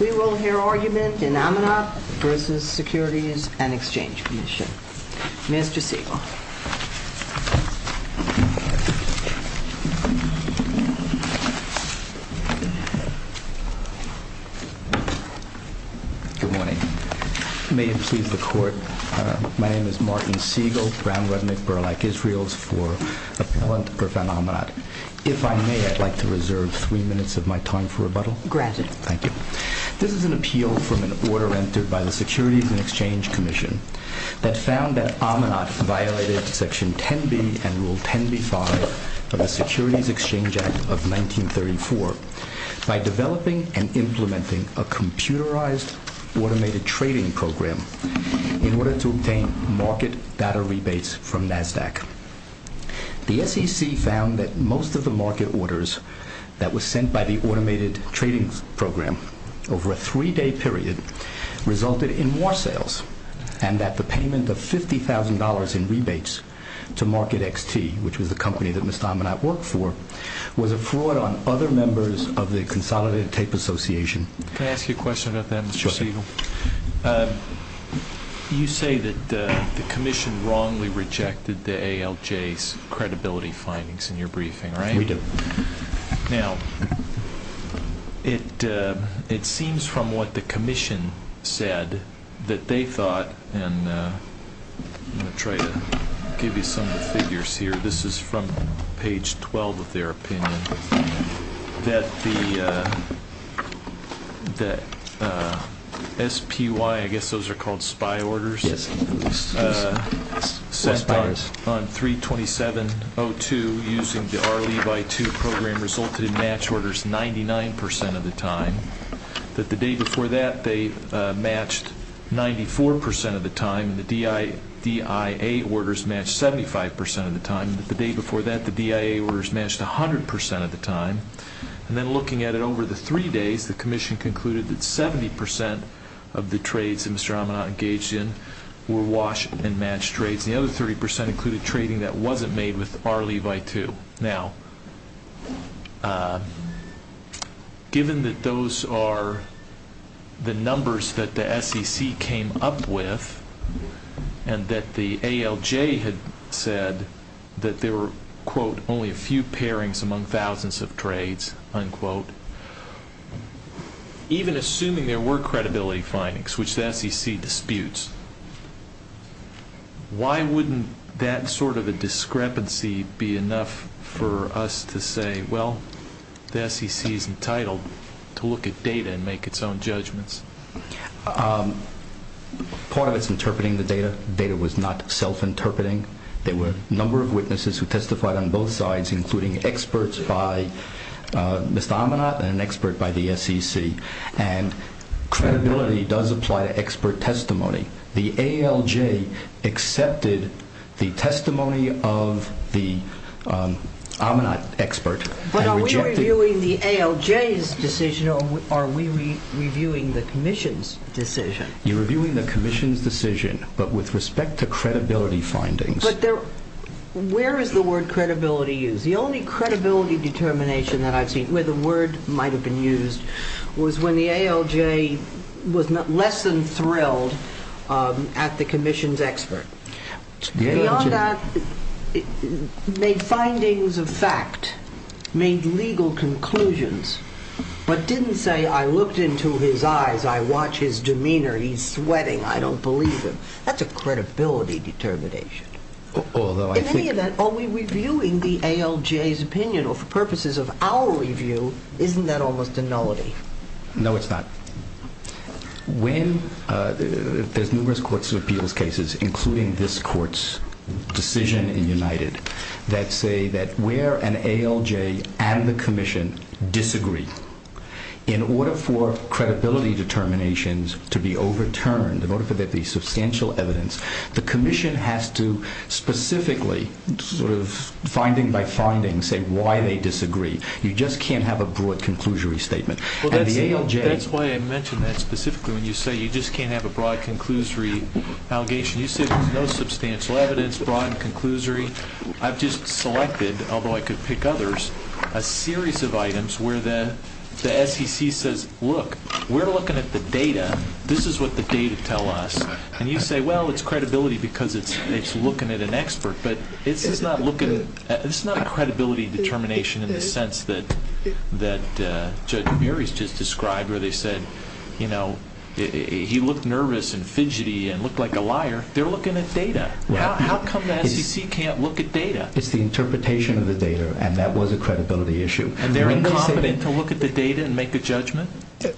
We will hear argument in Amenot v. Securities and Exchange Commission. Mr. Siegel. Good morning. May it please the Court, my name is Martin Siegel, Brown, Redmond, Burlack, Israels for Appellant v. Amenot. If I may, I'd like to reserve three minutes of my time for rebuttal. Granted. Thank you. This is an appeal from an order entered by the Securities and Exchange Commission that found that Amenot violated section 10b and rule 10b-5 of the Securities Exchange Act of 1934 by developing and implementing a computerized automated trading program in order to obtain market data rebates from NASDAQ. The SEC found that most of the market orders that were sent by the automated trading program over a three-day period resulted in more sales and that the payment of $50,000 in rebates to Market XT, which was the company that Ms. Amenot worked for, was a fraud on other members of the Consolidated Tape Association. Can I ask you a question about that, Mr. Siegel? Sure. You say that the Commission wrongly rejected the ALJ's credibility findings in your briefing, right? We do. Now, it seems from what the Commission said that they thought, and I'm going to try to give you some of the figures here. This is from page 12 of their opinion, that the SPY, I guess by two, program resulted in match orders 99 percent of the time, that the day before that, they matched 94 percent of the time, and the DIA orders matched 75 percent of the time, and that the day before that, the DIA orders matched 100 percent of the time. And then looking at it over the three days, the Commission concluded that 70 percent of the trades that Mr. Amenot engaged in were wash and match trades, and the other 30 percent included trading that wasn't made with the SPY. Given that those are the numbers that the SEC came up with, and that the ALJ had said that there were, quote, only a few pairings among thousands of trades, unquote, even assuming there were credibility findings, which the SEC disputes, why wouldn't that sort of a discrepancy be enough for us to say, well, the SEC is entitled to look at data and make its own judgments? Part of it is interpreting the data. Data was not self-interpreting. There were a number of witnesses who testified on both sides, including experts by Mr. Amenot and an expert by the SEC, and credibility does apply to expert testimony. The ALJ accepted the testimony of the Amenot expert. But are we reviewing the ALJ's decision, or are we reviewing the Commission's decision? You're reviewing the Commission's decision, but with respect to credibility findings. But where is the word credibility used? The only credibility determination that I've seen where the word might have been used was when the ALJ was less than thrilled at the Commission's expert. Beyond that, made findings of fact, made legal conclusions, but didn't say, I looked into his eyes, I watch his demeanor, he's sweating, I don't believe him. That's a credibility determination. In any event, are we reviewing the ALJ's opinion, or for purposes of our review, isn't that almost a nullity? No, it's not. There's numerous courts of appeals cases, including this Court's decision in United, that say that where an ALJ and the Commission disagree, in order for credibility determinations to be overturned, in order for there to be substantial evidence, the Commission has to specifically, sort of finding by finding, say why they disagree. You just can't have a broad conclusory statement. That's why I mentioned that specifically, when you say you just can't have a broad conclusory allegation. You say there's no substantial evidence, broad and conclusory. I've just selected, although I could pick others, a series of items where the SEC says, look, we're looking at the data, this is what the data tell us. And you say, well, it's credibility because it's looking at an expert. But this is not a credibility determination in the sense that Judge Mary's just described, where they said, he looked nervous and fidgety and looked like a liar. They're looking at data. How come the SEC can't look at data? It's the interpretation of the data, and that was a credibility issue. And they're incompetent to look at the data and make a judgment?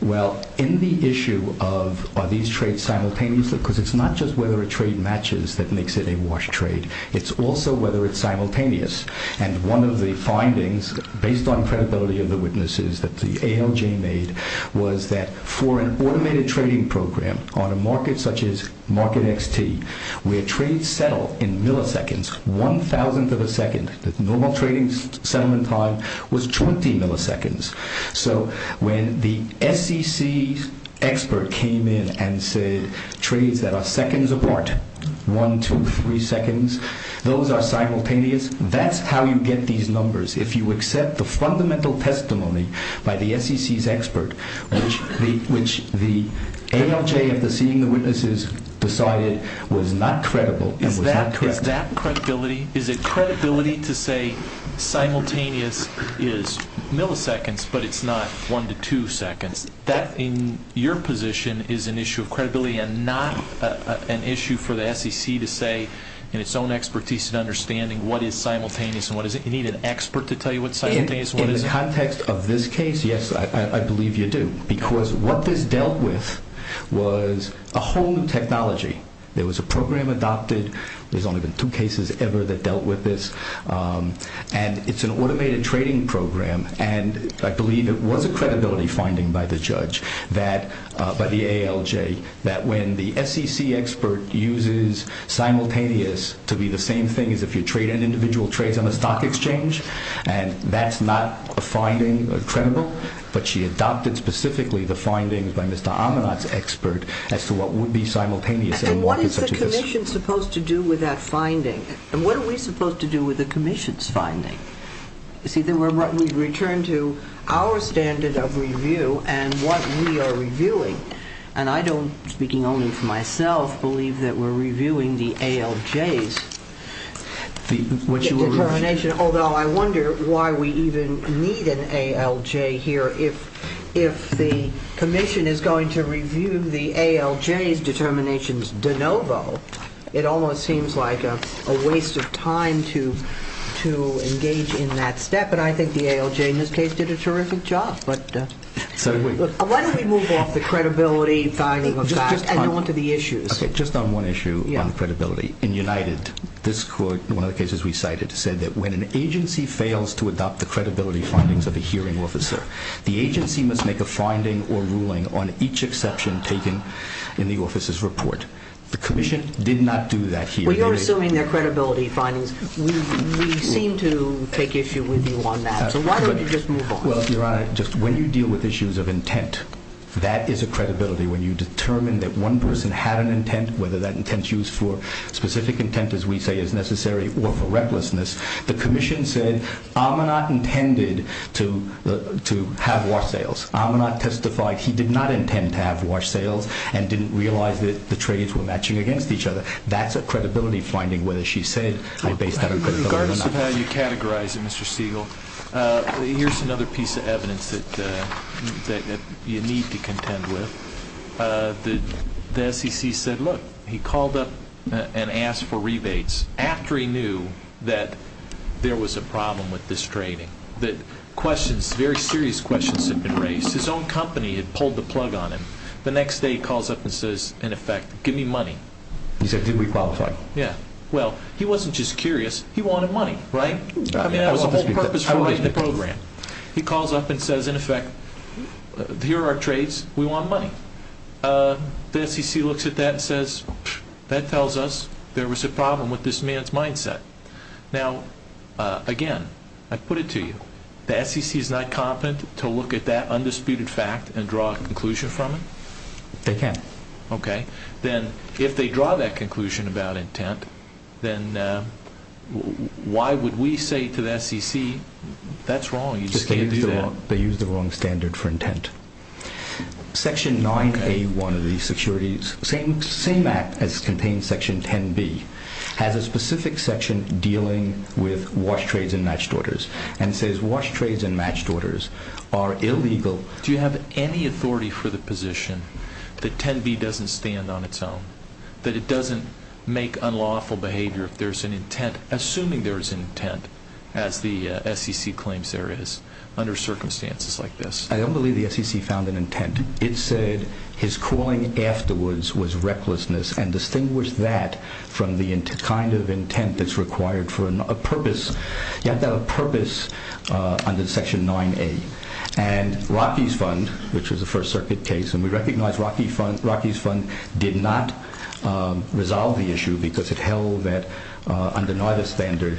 Well, in the issue of, are these trades simultaneously? Because it's not just whether a trade matches that makes it a wash trade. It's also whether it's simultaneous. And one of the findings, based on credibility of the witnesses that the ALJ made, was that for an automated trading program on a market such as market XT, where trades settle in milliseconds, one thousandth of a second, the normal trading settlement time was 20 milliseconds. So when the one, two, three seconds, those are simultaneous. That's how you get these numbers. If you accept the fundamental testimony by the SEC's expert, which the ALJ of the seeing the witnesses decided was not credible and was not correct. Is that credibility? Is it credibility to say simultaneous is milliseconds, but it's not one to two seconds? That, in your position, is an issue of credibility and not an issue for the SEC to say in its own expertise and understanding what is simultaneous and what isn't? You need an expert to tell you what's simultaneous? In the context of this case, yes, I believe you do. Because what this dealt with was a whole new technology. There was a program adopted. There's only been two cases ever that dealt with this. And it's an automated trading program. And I believe it was a credibility finding by the judge that, by the ALJ, that when the SEC expert uses simultaneous to be the same thing as if you trade an individual trades on a stock exchange, and that's not a finding or credible, but she adopted specifically the findings by Mr. Amanat's expert as to what would be simultaneous. And what is the commission supposed to do with that finding? And what are we supposed to do with the commission's return to our standard of review and what we are reviewing? And I don't, speaking only for myself, believe that we're reviewing the ALJ's determination, although I wonder why we even need an ALJ here. If the commission is going to review the ALJ's determinations de novo, it almost seems like a waste of time to engage in that step. And I think the ALJ, in this case, did a terrific job. But why don't we move off the credibility finding and on to the issues? Okay, just on one issue on credibility. In United, this court, one of the cases we cited, said that when an agency fails to adopt the credibility findings of a hearing officer, the agency must make a finding or ruling on each exception taken in the officer's report. The commission did not do that here. Well, you're assuming their credibility findings. We seem to take issue with you on that. So why don't you just move on? Well, Your Honor, just when you deal with issues of intent, that is a credibility. When you determine that one person had an intent, whether that intent is used for specific intent, as we say, is necessary or for recklessness. The commission said Amanat intended to have wash sails. Amanat testified he did not intend to have wash sails. That's a credibility finding, whether she said I based that on credibility or not. In regards to how you categorize it, Mr. Stegall, here's another piece of evidence that you need to contend with. The SEC said, look, he called up and asked for rebates after he knew that there was a problem with this training, that questions, very serious questions had been raised. His own company had pulled the plug on him. The next day he calls up and says, in effect, give me money. He said, did we qualify? Yeah. Well, he wasn't just curious. He wanted money, right? I mean, that was the whole purpose of the program. He calls up and says, in effect, here are our trades. We want money. The SEC looks at that and says, that tells us there was a problem with this man's mindset. Now, again, I put it to you, the SEC is not and draw a conclusion from it? They can't. Okay. Then if they draw that conclusion about intent, then why would we say to the SEC, that's wrong, you just can't do that? They used the wrong standard for intent. Section 9A, one of the securities, same act as contains section 10B, has a specific section dealing with wash trades and matched orders and says, wash trades and matched orders are illegal. Do you have any authority for the position that 10B doesn't stand on its own? That it doesn't make unlawful behavior if there's an intent, assuming there's an intent, as the SEC claims there is, under circumstances like this? I don't believe the SEC found an intent. It said his calling afterwards was recklessness and distinguish that from the kind of intent that's required for a purpose. You have to have a purpose under section 9A. Rocky's Fund, which was a First Circuit case, and we recognize Rocky's Fund did not resolve the issue because it held that under neither standard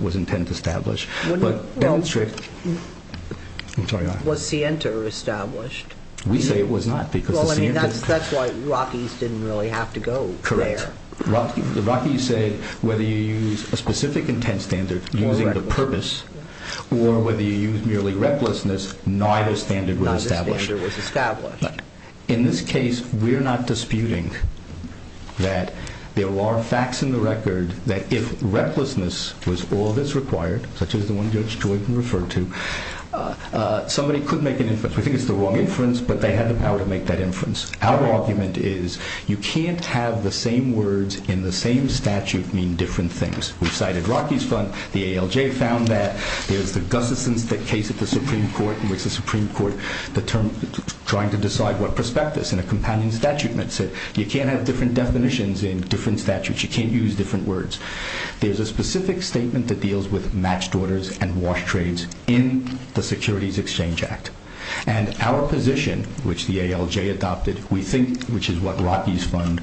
was intent established. Was Sienta established? We say it was not because of Sienta. That's why Rocky's didn't have to go there. Rocky said whether you use a specific intent standard using the purpose or whether you use merely recklessness, neither standard was established. In this case, we're not disputing that there are facts in the record that if recklessness was all that's required, such as the one Judge Joyden referred to, somebody could make an inference. We think it's the wrong inference, but they had the power to make that inference. Our argument is you can't have the same words in the same statute mean different things. We've cited Rocky's Fund. The ALJ found that there's the Gustafson's case at the Supreme Court in which the Supreme Court determined trying to decide what prospectus in a companion statute meant. You can't have different definitions in different statutes. You can't use different words. There's a specific statement that deals with match daughters and wash trades in the Securities Exchange Act. Our position, which the ALJ adopted, we think, which is what Rocky's Fund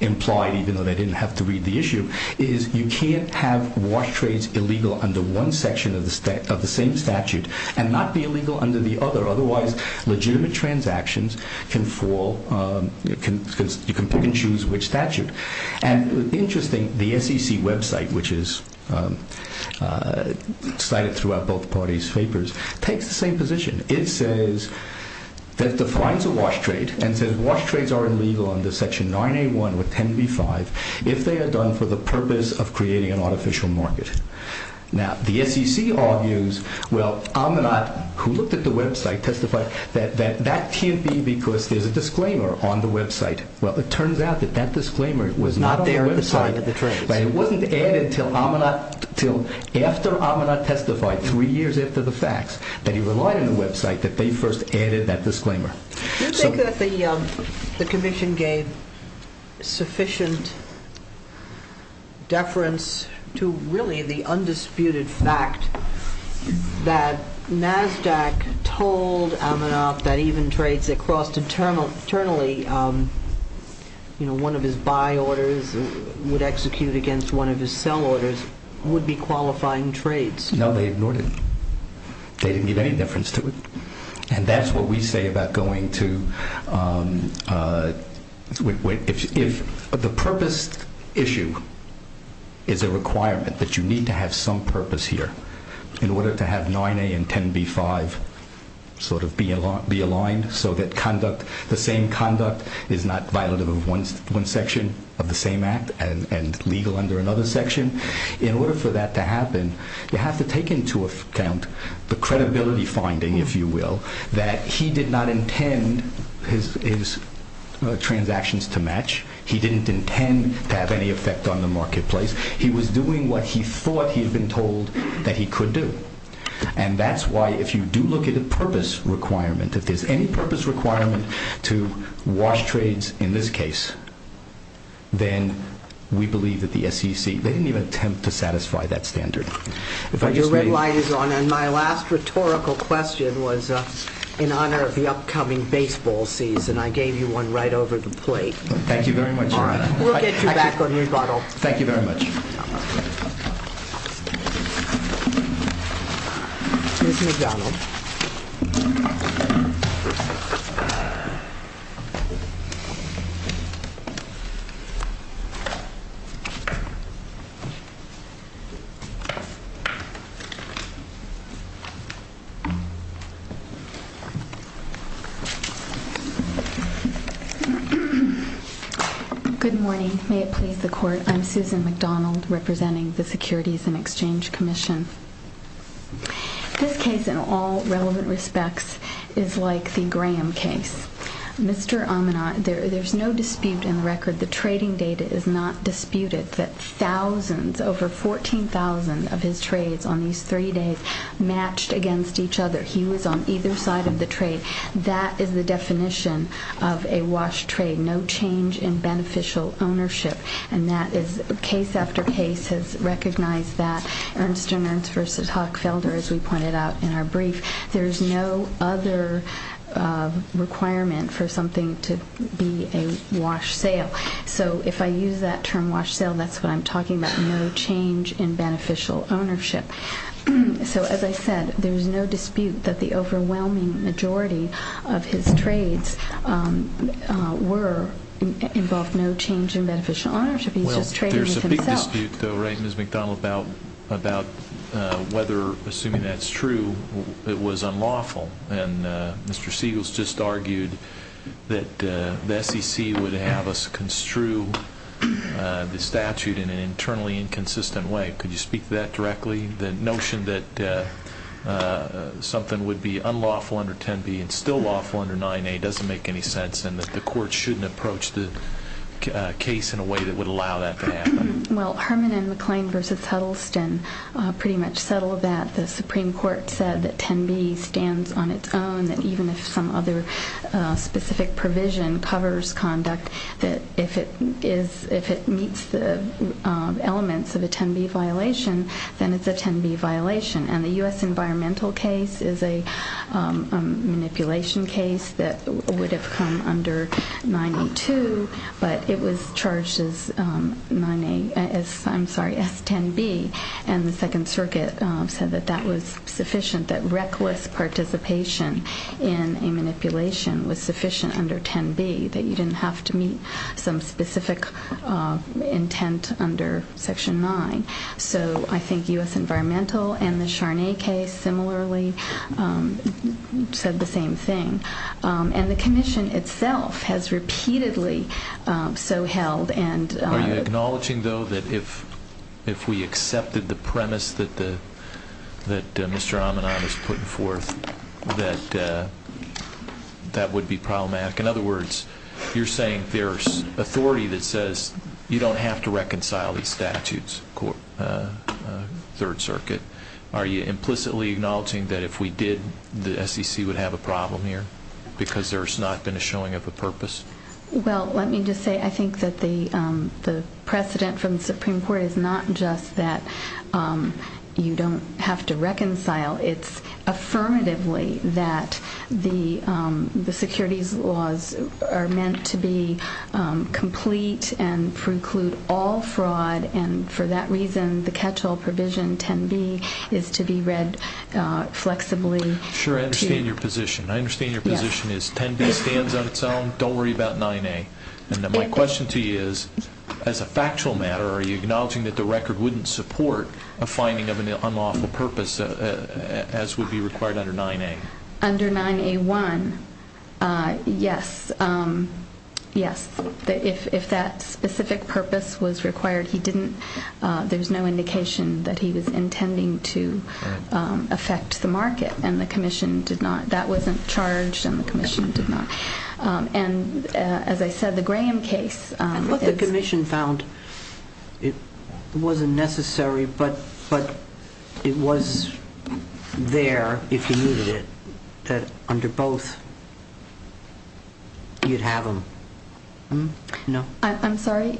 implied, even though they didn't have to read the issue, is you can't have wash trades illegal under one section of the same statute and not be illegal under the other. Otherwise, legitimate transactions can fall. You can pick and choose which statute. Interesting, the SEC website, which is cited throughout both parties' papers, takes the same position. It says that defines a wash trade and says wash trades are illegal under section 9A1 with 10B5 if they are done for the purpose of creating an artificial market. Now, the SEC argues, well, Aminat, who looked at the website, testified that that can't be because there's a disclaimer on the website. Well, it turns out that that disclaimer was not on the website. It wasn't added until after Aminat testified, three years after the facts, that he relied on the website that they first added that disclaimer. Do you think that the Commission gave sufficient deference to really the undisputed fact that NASDAQ told Aminat that even trades that crossed internally, you know, one of his buy orders would execute against one of his sell orders, would be qualifying trades? No, they ignored it. They didn't give any deference to it. And that's what we say about going to, if the purpose issue is a requirement that you need to have some purpose here in order to have 9A and 10B5 sort of be aligned so that conduct, the same conduct is not violative of one section of the same act and legal under another section. In order for that to happen, you have to take into account the credibility finding, if you will, that he did not intend his transactions to match. He didn't intend to have any effect on the marketplace. He was doing what he thought he had been told that he could do. And that's why if you do look at a purpose requirement, if there's any purpose requirement to wash trades in this case, then we believe that the SEC, they didn't even attempt to satisfy that standard. Your red light is on. And my last rhetorical question was in honor of the upcoming baseball season. I gave you one right over the plate. Thank you very much. All right. We'll get you back on your bottle. Thank you very much. Good morning. May it please the court. I'm Susan McDonald, representing the Securities and Exchange Commission. This case in all relevant respects is like the Graham case. Mr. Amanat, there's no dispute in the record. The trading data is not disputed that thousands, over 14,000 of his trades on these three days matched against each other. He was on either side of the trade. That is the definition of a wash trade, no change in beneficial ownership. And that is case after case has recognized that Ernst & Ernst versus Hockfelder, as we pointed out in our brief, there's no other requirement for something to be a wash sale. So if I use that term wash sale, that's what I'm talking about, no change in beneficial ownership. So as I said, there's no dispute that the overwhelming majority of his trades involved no change in beneficial ownership. He's just trading with himself. Well, there's a big dispute though, right, Ms. McDonald, about whether, assuming that's true, it was unlawful. And Mr. Siegels just argued that the SEC would have us construe the statute in an internally inconsistent way. Could you speak to that directly, the notion that something would be unlawful under 10B and still lawful under 9A doesn't make any sense and that the court shouldn't approach the case in a way that would allow that to happen? Well, Herman and McClain versus Huddleston pretty much settled that. The Supreme Court said that 10B stands on its own, that even if some other specific provision covers conduct, that if it meets the elements of a 10B violation, then it's a 10B violation. And the U.S. environmental case is a manipulation case that would have come under 9A2, but it was charged as 9A, I'm sorry, as 10B. And the Second Circuit said that that was sufficient, that reckless participation in a manipulation was sufficient under 10B, that you didn't have to meet some specific intent under Section 9. So I think U.S. environmental and the Charnay case similarly said the same thing. And the Commission itself has repeatedly so held. Are you acknowledging that if we did, the SEC would have a problem here? Because there's not been a showing of a purpose? Well, let me just say, I think that the precedent from the Supreme Court is not just that you don't have to reconcile, it's that you don't have to reconcile. And I think that's affirmatively that the securities laws are meant to be complete and preclude all fraud. And for that reason, the catch-all provision 10B is to be read flexibly. Sure, I understand your position. I understand your position is 10B stands on its own, don't worry about 9A. And then my question to you is, as a factual matter, are you acknowledging that the record wouldn't support a finding of an unlawful purpose as would be required under 9A? Under 9A1, yes. Yes, if that specific purpose was required, he didn't, there's no indication that he was intending to affect the market. And the Commission did not, that wasn't charged, and the Commission did not. And as I said, the Graham case... But the Commission found it wasn't necessary, but it was there, if he needed it, that under both, you'd have them. No? I'm sorry?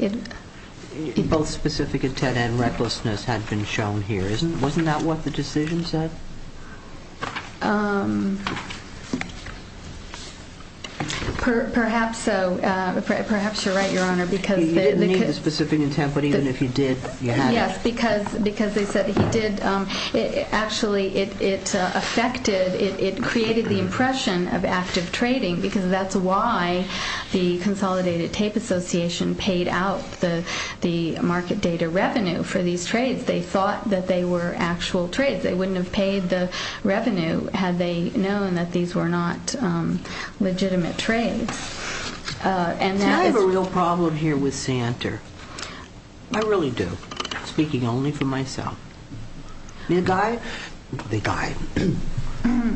Both specific intent and recklessness had been shown here. Wasn't that what the decision said? Perhaps so. Perhaps you're right, Your Honor, because... You didn't need the specific intent, but even if you did, you had it. Yes, because they said he did. Actually, it affected, it created the impression of active trading, because that's why the Consolidated Tape Association paid out the market data revenue for these trades. They thought that they were actual trades. They wouldn't have paid the revenue had they known that these were not legitimate trades. Do I have a real problem here with Santer? I really do, speaking only for myself. The guy, the guy,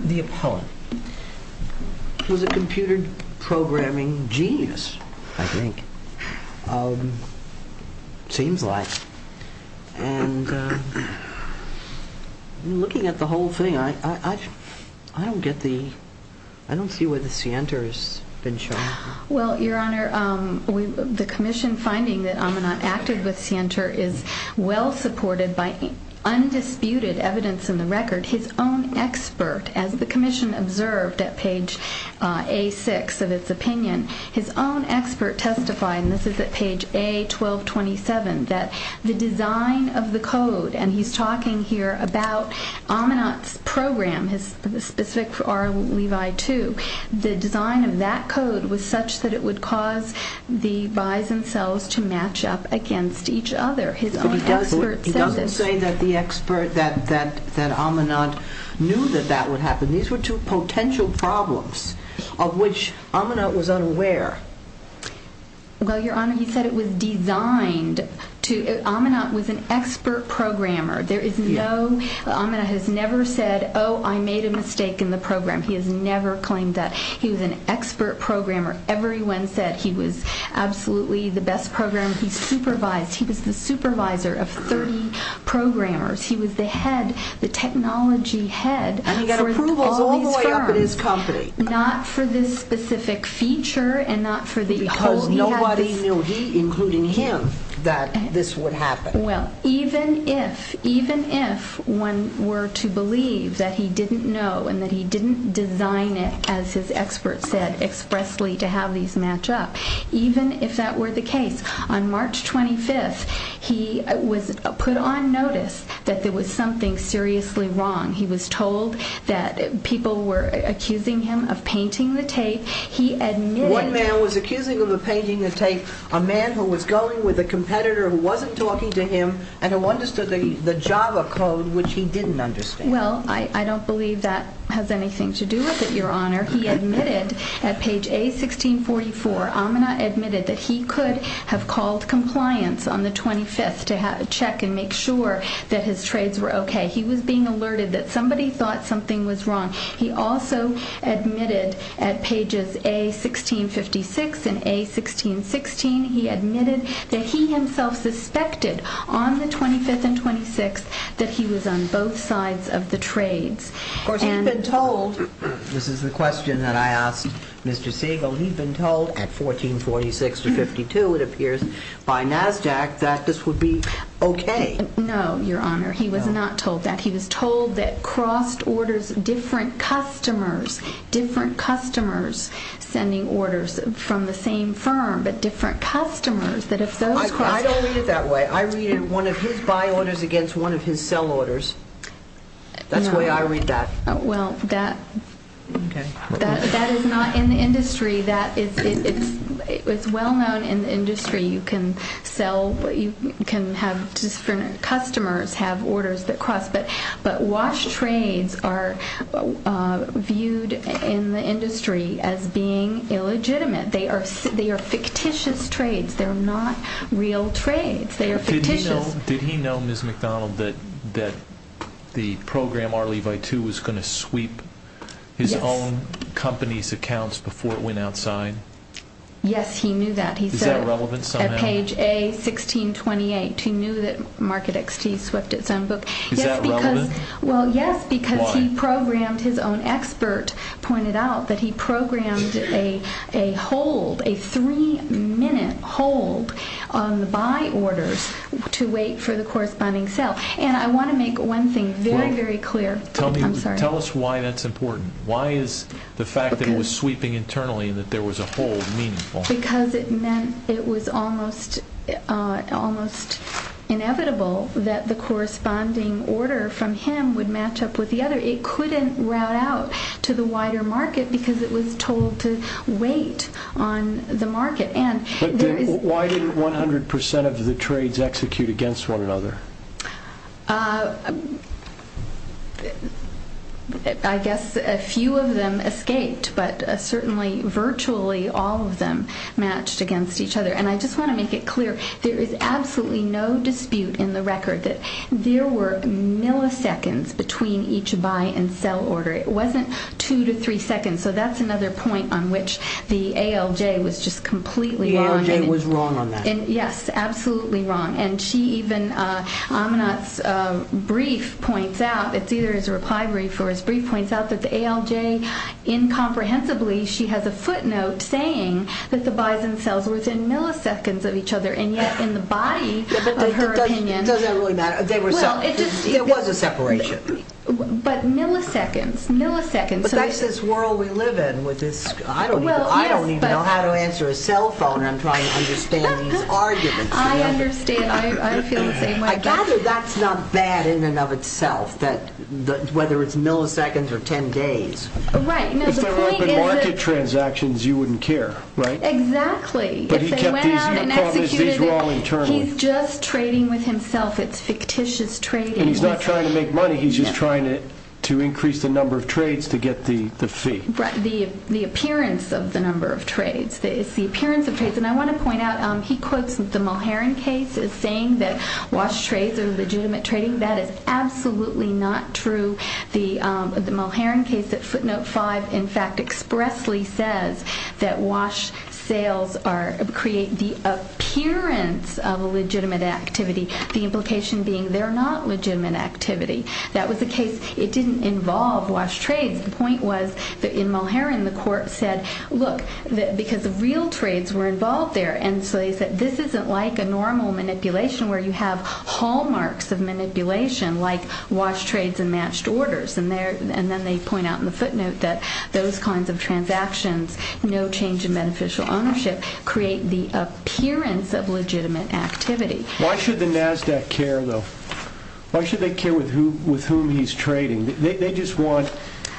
the appellant, was a computer programming genius, I think, seems like. And looking at the whole thing, I don't get the... I don't see where the Santer has been shown. Well, Your Honor, the Commission finding that Amanat acted with Santer is well supported by undisputed evidence in the record. His own expert, as the Commission observed at page A6 of its opinion, his own expert testified, and this is at page A1227, that the design of the code, and he's talking here about Amanat's program, his specific R Levi 2, the design of that code was such that it would cause the buys and sells to match up against each other. His own expert... But he doesn't say that the expert, that Amanat knew that that would happen. These were two potential problems of which Amanat was unaware. Well, Your Honor, he said it was designed to... Amanat was an expert programmer. There is no... Amanat has never said, oh, I made a mistake in the program. He has never claimed that. He was an expert programmer. Everyone said he was absolutely the best programmer. He supervised. He was the supervisor of 30 programmers. He was the head, the technology head. And he got approval all the way up at his company. Not for this specific feature and not for the... Because nobody knew, he, including him, that this would happen. Well, even if, even if one were to believe that he didn't know and that he didn't design it, as his expert said, expressly to have these match up, even if that were the case, on March 25th, he was put on notice that there was something seriously wrong. He was told that people were accusing him of painting the tape. He admitted... One man was accusing him of painting the tape, a man who was going with a competitor who wasn't talking to him and who understood the Java code, which he didn't understand. Well, I don't believe that has anything to do with it, Your Honor. He admitted that he could have called compliance on the 25th to check and make sure that his trades were okay. He was being alerted that somebody thought something was wrong. He also admitted at pages A1656 and A1616, he admitted that he himself suspected on the 25th and 26th that he was on both sides of the trades. Of course, he'd been told... This is the question that I asked Mr. Siegel. He'd been told at 1446 to 52, it appears, by NASDAQ that this would be okay. No, Your Honor. He was not told that. He was told that crossed orders, different customers, different customers sending orders from the same firm, but different customers, that if those... I don't read it that way. I read it one of his buy orders against one of his sell orders. That's the way I read that. Well, that is not in the industry. It's well known in the industry, you can sell, you can have different customers have orders that cross, but wash trades are viewed in the industry as being illegitimate. They are fictitious trades. They're not real trades. They are fictitious. Did he know, Ms. McDonald, that the program R Levi 2 was going to sweep his own company's accounts before it went outside? Yes, he knew that. Is that relevant somehow? He said at page A1628, he knew that Market XT swept its own book. Is that relevant? Well, yes, because he programmed... His own expert pointed out that he programmed a hold, a three-minute hold on the buy orders to wait for the corresponding sell. And I want to make one thing very, very clear. Tell me, tell us why that's important. Why is the fact that it was sweeping internally and that there was a hold meaningful? Because it meant it was almost inevitable that the corresponding order from him would match up with the other. It couldn't route out to the wider market because it was told to wait on the market. And... Why didn't 100% of the trades execute against one another? I guess a few of them escaped, but certainly virtually all of them matched against each other. And I just want to make it clear, there is absolutely no dispute in the record that there were milliseconds between each buy and sell order. It wasn't two to three seconds. So that's another point on which the ALJ was just completely wrong. The ALJ was wrong on that. Yes, absolutely wrong. And she even, Aminat's brief points out, it's either his reply brief or his brief points out that the ALJ incomprehensibly, she has a footnote saying that the buys and sells were within milliseconds of each other. And yet in the body of her opinion... There was a separation. But milliseconds, milliseconds. But that's this world we live in with this. I don't even know how to answer a cell phone. I'm trying to understand these arguments. I understand. I feel the same way. I gather that's not bad in and of itself that whether it's milliseconds or 10 days. Right. If there were open market transactions, you wouldn't care, right? Exactly. He's just trading with himself. It's fictitious trading. He's not trying to make money. He's just trying to increase the number of trades to get the fee. The appearance of the number of trades. It's the appearance of trades. And I want to point out, he quotes the Mulherrin case as saying that wash trades are legitimate trading. That is absolutely not true. The Mulherrin case at footnote 5, in fact, expressly says that wash sales create the appearance of a legitimate activity. The implication being they're not legitimate activity. That was the case. It didn't involve wash trades. The point was that in Mulherrin, the court said, look, because the real trades were involved there. And so they said, this isn't like a normal manipulation where you have hallmarks of manipulation like wash trades and matched orders. And then they point out in the footnote that those kinds of transactions, no change in beneficial ownership, create the appearance of legitimate activity. Why should the Nasdaq care though? Why should they care with whom he's trading? They just want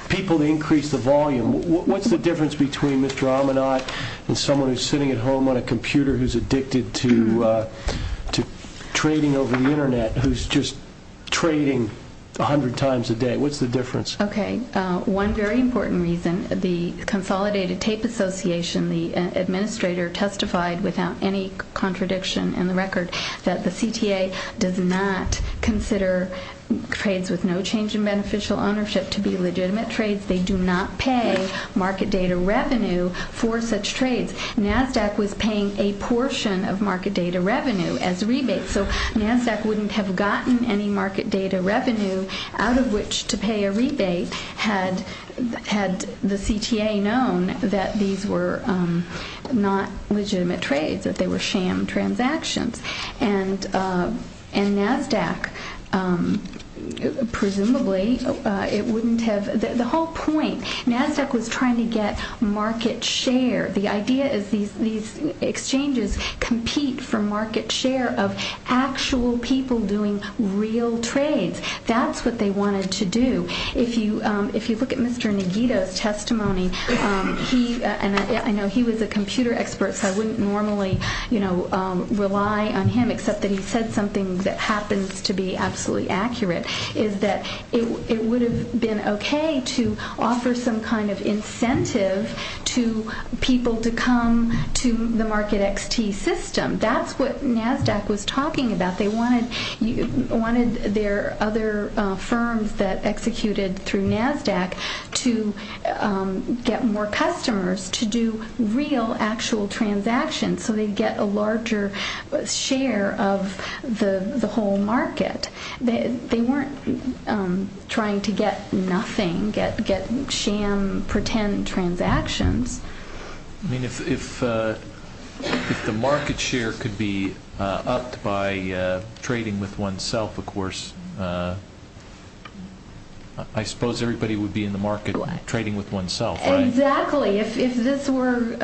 people to increase the volume. What's the difference between Mr. Amanat and someone who's sitting at home on a computer who's addicted to trading over the internet, who's just trading 100 times a day? What's the difference? Okay. One very important reason. The Consolidated Tape Association, the administrator testified without any contradiction in the record that the CTA does not consider trades with no change in beneficial ownership to be legitimate trades. They do not pay market data revenue for such trades. Nasdaq was paying a portion of market data revenue as rebates. So Nasdaq wouldn't have gotten any market data revenue out of which to pay a rebate had the CTA known that these were not legitimate trades, that they were sham transactions. And Nasdaq, presumably, it wouldn't have, the whole point, Nasdaq was trying to get market share. The idea is these exchanges compete for market share of actual people doing real trades. That's what they wanted to do. If you look at Mr. Nogito's testimony, and I know he was a rely on him, except that he said something that happens to be absolutely accurate, is that it would have been okay to offer some kind of incentive to people to come to the market XT system. That's what Nasdaq was talking about. They wanted their other firms that executed through Nasdaq to get more customers to do real actual transactions so they'd get a larger share of the whole market. They weren't trying to get nothing, get sham pretend transactions. I mean, if the market share could be upped by trading with oneself, of course, I suppose everybody would be in the market trading with oneself. Exactly. If this were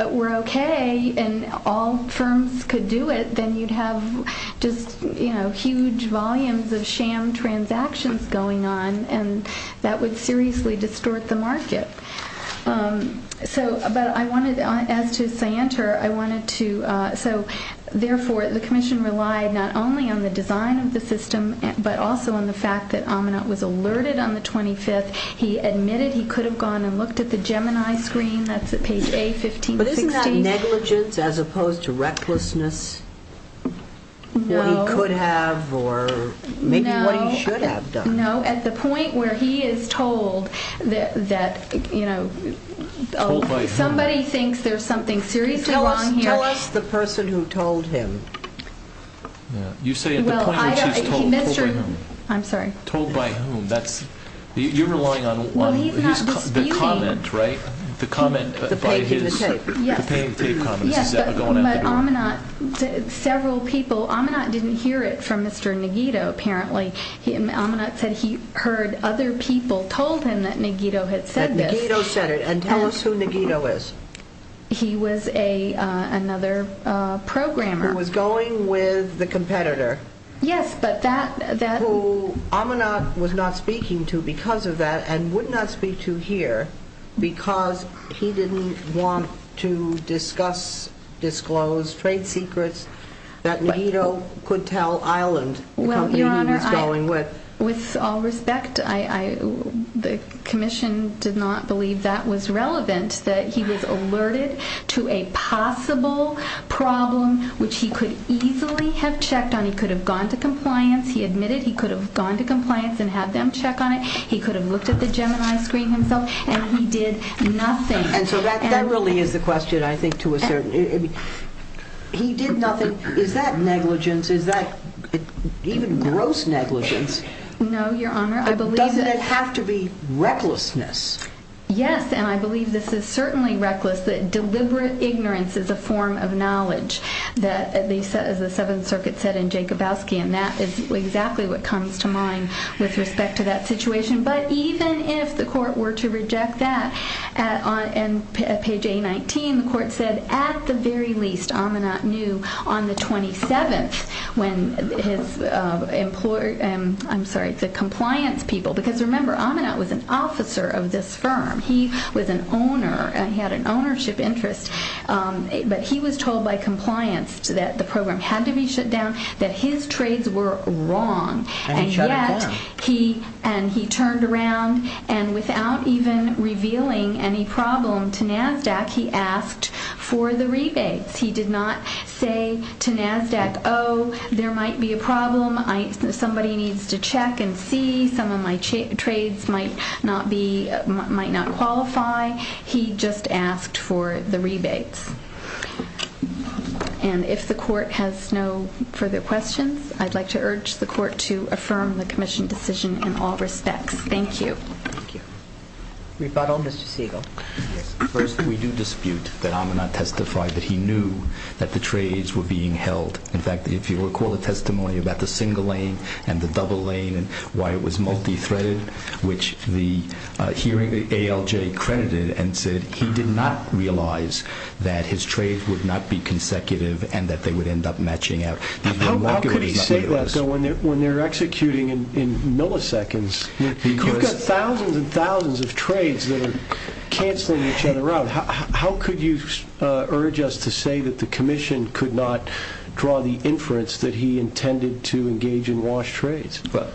okay and all firms could do it, then you'd have just huge volumes of sham transactions going on, and that would seriously distort the market. So, but I wanted, as to Syanter, I wanted to, so therefore the Commission relied not only on the design of the system, but also on the fact that Aminat was alerted on the 25th. He admitted he could have gone and looked at the Gemini screen, that's at page A, 15-16. But isn't that negligence as opposed to recklessness? What he could have, or maybe what he should have done. No, at the point where he is told that, you know, somebody thinks there's something seriously wrong here. Tell us the person who told him. You say at the point when he's told, told by whom? I'm sorry? Told by whom? That's, you're relying on the comment, right? The comment by his, the paying tape comment. Yes, but Aminat, several people, Aminat didn't hear it from Mr. Nogito, apparently. Aminat said he heard other people told him that Nogito had said this. That Nogito said it, and tell us who Nogito is. He was a, another programmer. Who was going with the competitor. Yes, but that, that. Who Aminat was not speaking to because of that, and would not speak to here, because he didn't want to discuss, disclose trade secrets that Nogito could tell Island. Well, Your Honor, with all respect, I, I, the Nogito was alerted to a possible problem, which he could easily have checked on. He could have gone to compliance. He admitted he could have gone to compliance and had them check on it. He could have looked at the Gemini screen himself, and he did nothing. And so that, that really is the question, I think, to a certain, I mean, he did nothing. Is that negligence? Is that even gross negligence? No, Your Honor, I believe. Does it have to be recklessness? Yes, and I believe this is certainly reckless, that deliberate ignorance is a form of knowledge, that at least, as the Seventh Circuit said in Jacobowski, and that is exactly what comes to mind with respect to that situation, but even if the court were to reject that, and on page A-19, the court said, at the very least, Aminat knew on the 27th, when his employer, I'm sorry, the compliance people, because remember, Aminat was an officer of this firm. He was an owner, and he had an ownership interest, but he was told by compliance that the program had to be shut down, that his trades were wrong. And yet, he, and he turned around, and without even revealing any problem to NASDAQ, he asked for the rebates. He did not say to NASDAQ, oh, there might be a problem. Somebody needs to check and see. Some of my trades might not be, might not qualify. He just asked for the rebates. And if the court has no further questions, I'd like to urge the court to affirm the commission decision in all respects. Thank you. Thank you. Rebuttal, Mr. Siegel. First, we do dispute that Aminat testified that he knew that the trades were being held. In fact, if you recall the testimony about the single lane and the double lane, and why it was multi-threaded, which the hearing, ALJ credited, and said he did not realize that his trades would not be consecutive and that they would end up matching out. How could he say that, though, when they're executing in milliseconds? You've got thousands and thousands of trades that are canceling each other out. How could you urge us to say that the commission could not draw the inference that he intended to engage in wash trades? Well,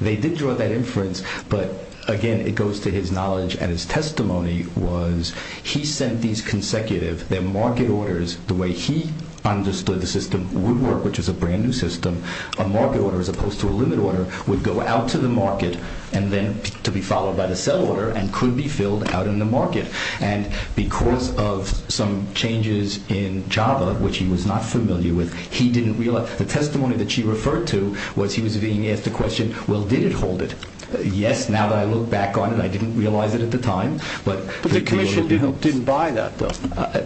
they did draw that inference, but again, it goes to his knowledge and his testimony was he sent these consecutive, their market orders, the way he understood the system would work, which is a brand new system, a market order as opposed to a limit order would go out to the market and then to be followed by the sell order and could be filled out in the market. And because of some changes in Java, which he was not familiar with, he didn't realize, the testimony that she referred to was he was being asked the question, well, did it hold it? Yes, now that I look back on it, I didn't realize it at the time. But the commission didn't buy that, though.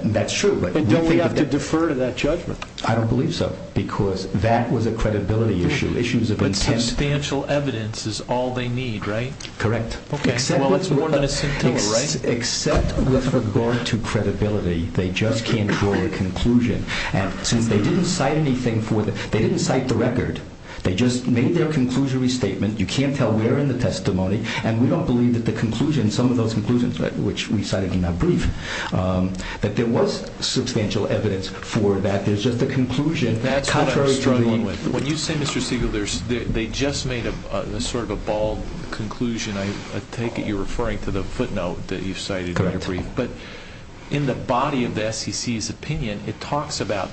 That's true. But don't we have to defer to that judgment? I don't believe so, because that was a credibility issue. Issues of intent. But substantial evidence is all they need, right? Correct. Well, it's more than a scintilla, right? Except with regard to credibility, they just can't draw a conclusion. And since they didn't cite anything for the, they didn't cite the record. They just made their conclusory statement. You can't tell where in the testimony. And we don't believe that the conclusion, some of those conclusions, which we cited in our brief, that there was substantial evidence for that. There's just a conclusion. That's what I'm struggling with. When you say, Mr. Siegel, they just made a sort of a bald conclusion. I take it you're referring to the footnote that you cited in your brief. But in the body of the SEC's opinion, it talks about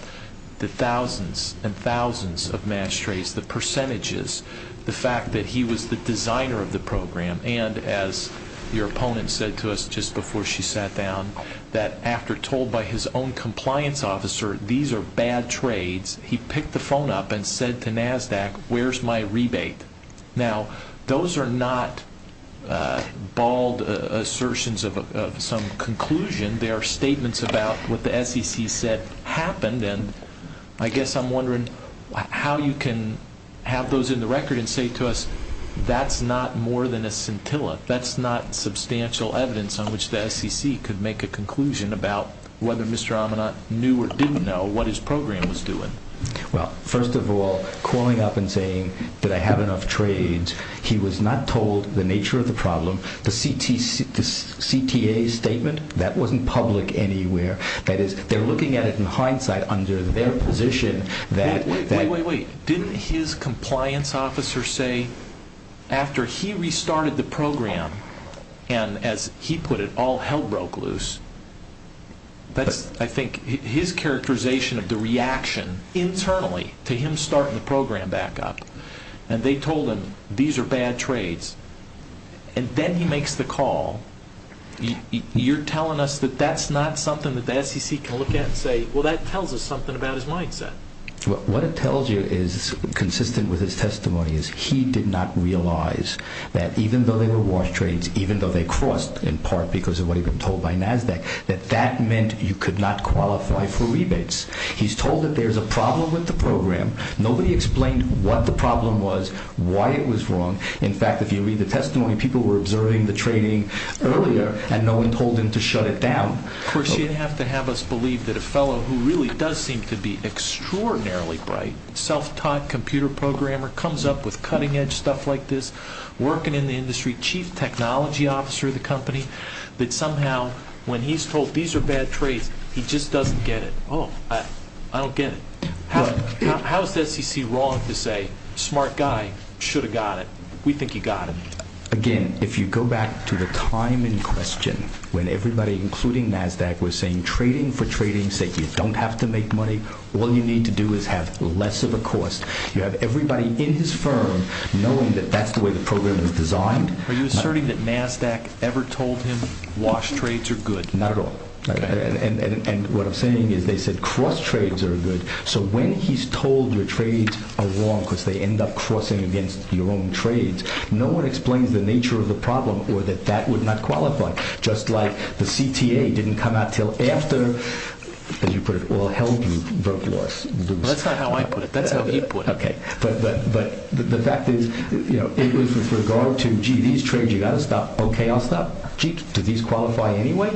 the thousands and thousands of match trades, the percentages, the fact that he was the designer of the program. And as your opponent said to us just before she sat down, that after told by his own compliance officer, these are bad trades, he picked the phone up and said to NASDAQ, where's my rebate? Now, those are not bald assertions of some conclusion. They are statements about what the SEC said happened. And I guess I'm wondering how you can have those in the record and say to us, that's not more than a scintilla. That's not substantial evidence on which the SEC could make a conclusion about whether Mr. Amanat knew or didn't know what his program was doing. Well, first of all, calling up and saying, did I have enough trades, he was not told the nature of the problem. The CTA statement, that wasn't public anywhere. That is, they're looking at it in hindsight under their position. Wait, wait, wait. Didn't his compliance officer say, after he restarted the program, and as he put it, all hell broke loose. That's, I think, his characterization of the reaction internally to him starting the program back up. And they told him, these are bad trades. And then he makes the call. You're telling us that that's not something that the SEC can look at and say, well, that tells us something about his mindset. What it tells you is consistent with his testimony, is he did not realize that even though they were washed trades, even though they crossed in part because of what he'd been told by NASDAQ, that that meant you could not qualify for rebates. He's told that there's a problem with the program. Nobody explained what the problem was, why it was wrong. In fact, if you read the testimony, people were observing the trading earlier, and no one told him to shut it down. Of course, you'd have to have us believe that a fellow who really does seem to be extraordinarily bright, self-taught computer programmer, comes up with cutting edge stuff like this, working in the industry, chief technology officer of the company, that somehow when he's told, these are bad trades, he just doesn't get it. Oh, I don't get it. How is the SEC wrong to say, smart guy, should have got it. We think he got it. Again, if you go back to the time in question, when everybody, including NASDAQ, was saying trading for trading, said you don't have to make money, all you need to do is have less of a cost. You have everybody in his firm knowing that that's the way the program is designed. Are you asserting that NASDAQ ever told him washed trades are good? Not at all. And what I'm saying is they said cross trades are good. So when he's told your trades are wrong because they end up crossing against your own trades, no one explains the nature of the problem or that that would not qualify. Just like the CTA didn't come out until after, as you put it, oil held you broke loss. That's not how I put it, that's how he put it. Okay. But the fact is, it was with regard to, gee, these trades, you got to stop. Okay, I'll stop. Gee, do these qualify anyway?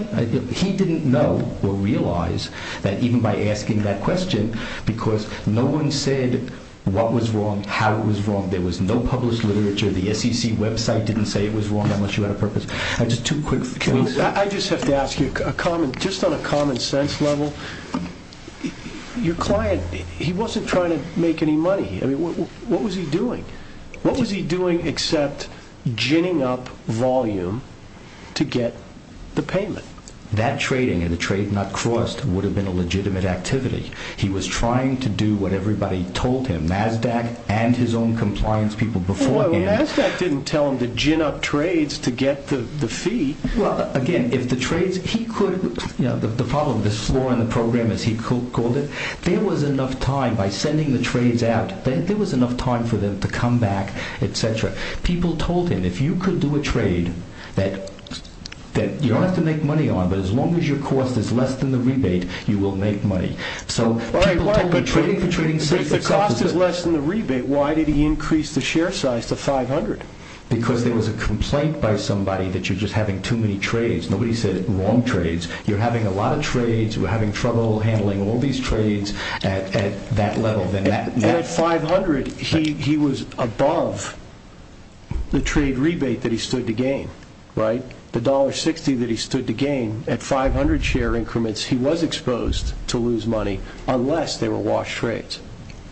He didn't know or realize that even by asking that question, because no one said what was wrong, how it was wrong. There was no published literature. The SEC website didn't say it was wrong unless you had a purpose. Just two quick things. I just have to ask you, just on a common sense level, your client, he wasn't trying to make any money. What was he doing? What was he doing except ginning up volume to get the payment? That trading and the trade not crossed would have been a legitimate activity. He was trying to do what everybody told him, NASDAQ and his own compliance people before him. NASDAQ didn't tell him to gin up trades to get the fee. Again, if the trades, he could, the problem, the flaw in the program as he called it, there was enough time by sending the trades out, there was enough time for them to come back, etc. People told him, if you could do a trade, that you don't have to make money on, but as long as your cost is less than the rebate, you will make money. If the cost is less than the rebate, why did he increase the share size to 500? Because there was a complaint by somebody that you're just having too many trades. Nobody said wrong trades. You're having a lot of trades, you're having trouble handling all these trades at that level. But at 500, he was above the trade rebate that he stood to gain, right? The $1.60 that he stood to gain, at 500 share increments, he was exposed to lose money, unless they were washed trades.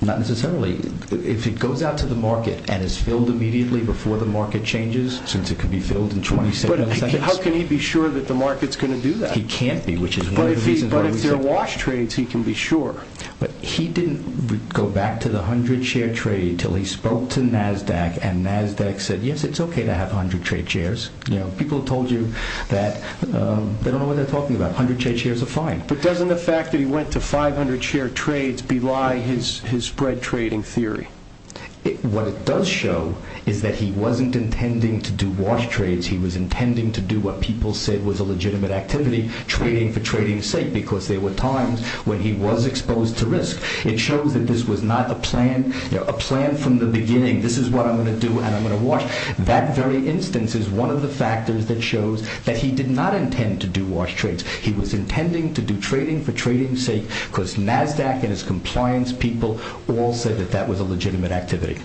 Not necessarily. If it goes out to the market and is filled immediately before the market changes, since it could be filled in 20 seconds... But how can he be sure that the market's going to do that? He can't be, which is one of the reasons... But if they're washed trades, he can be sure. But he didn't go back to the 100 share trade until he spoke to NASDAQ, and NASDAQ said, yes, it's okay to have 100 trade shares. People have told you that... They don't know what they're talking about. 100 trade shares are fine. But doesn't the fact that he went to 500 share trades belie his spread trading theory? What it does show is that he wasn't intending to do washed trades, he was intending to do what people said was a legitimate activity, trading for trading's sake, because there were times when he was exposed to risk. It shows that this was not a plan, a plan from the beginning. This is what I'm going to do, and I'm going to wash. That very instance is one of the factors that shows that he did not intend to do washed trades. He was intending to do trading for trading's sake, because NASDAQ and his compliance people all said that that was a legitimate activity.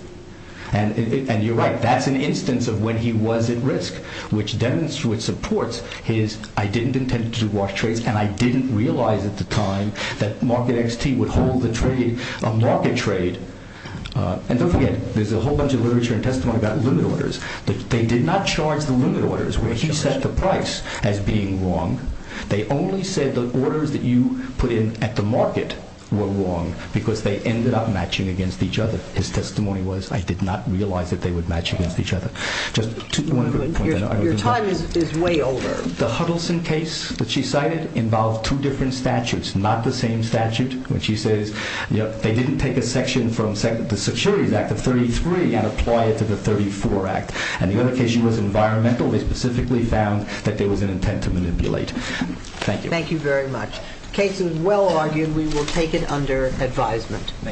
And you're right, that's an instance of when he was at risk, which supports his, I didn't intend to do washed trades, and I didn't realize at the time that Market XT would hold the trade, a market trade. And don't forget, there's a whole bunch of literature and testimony about limit orders. They did not charge the limit orders, where he set the price as being wrong. They only said the orders that you put in at the market were wrong, because they ended up matching against each other. His testimony was, I did not realize that they would match against each other. Your time is way over. The Huddleston case that she cited involved two different statutes, not the same statute, which she says, they didn't take a section from the Securities Act of 33 and apply it to the 34 Act. And the other case, she was environmental. They specifically found that there was an intent to manipulate. Thank you. Thank you very much. The case is well argued. We will take it under advisement.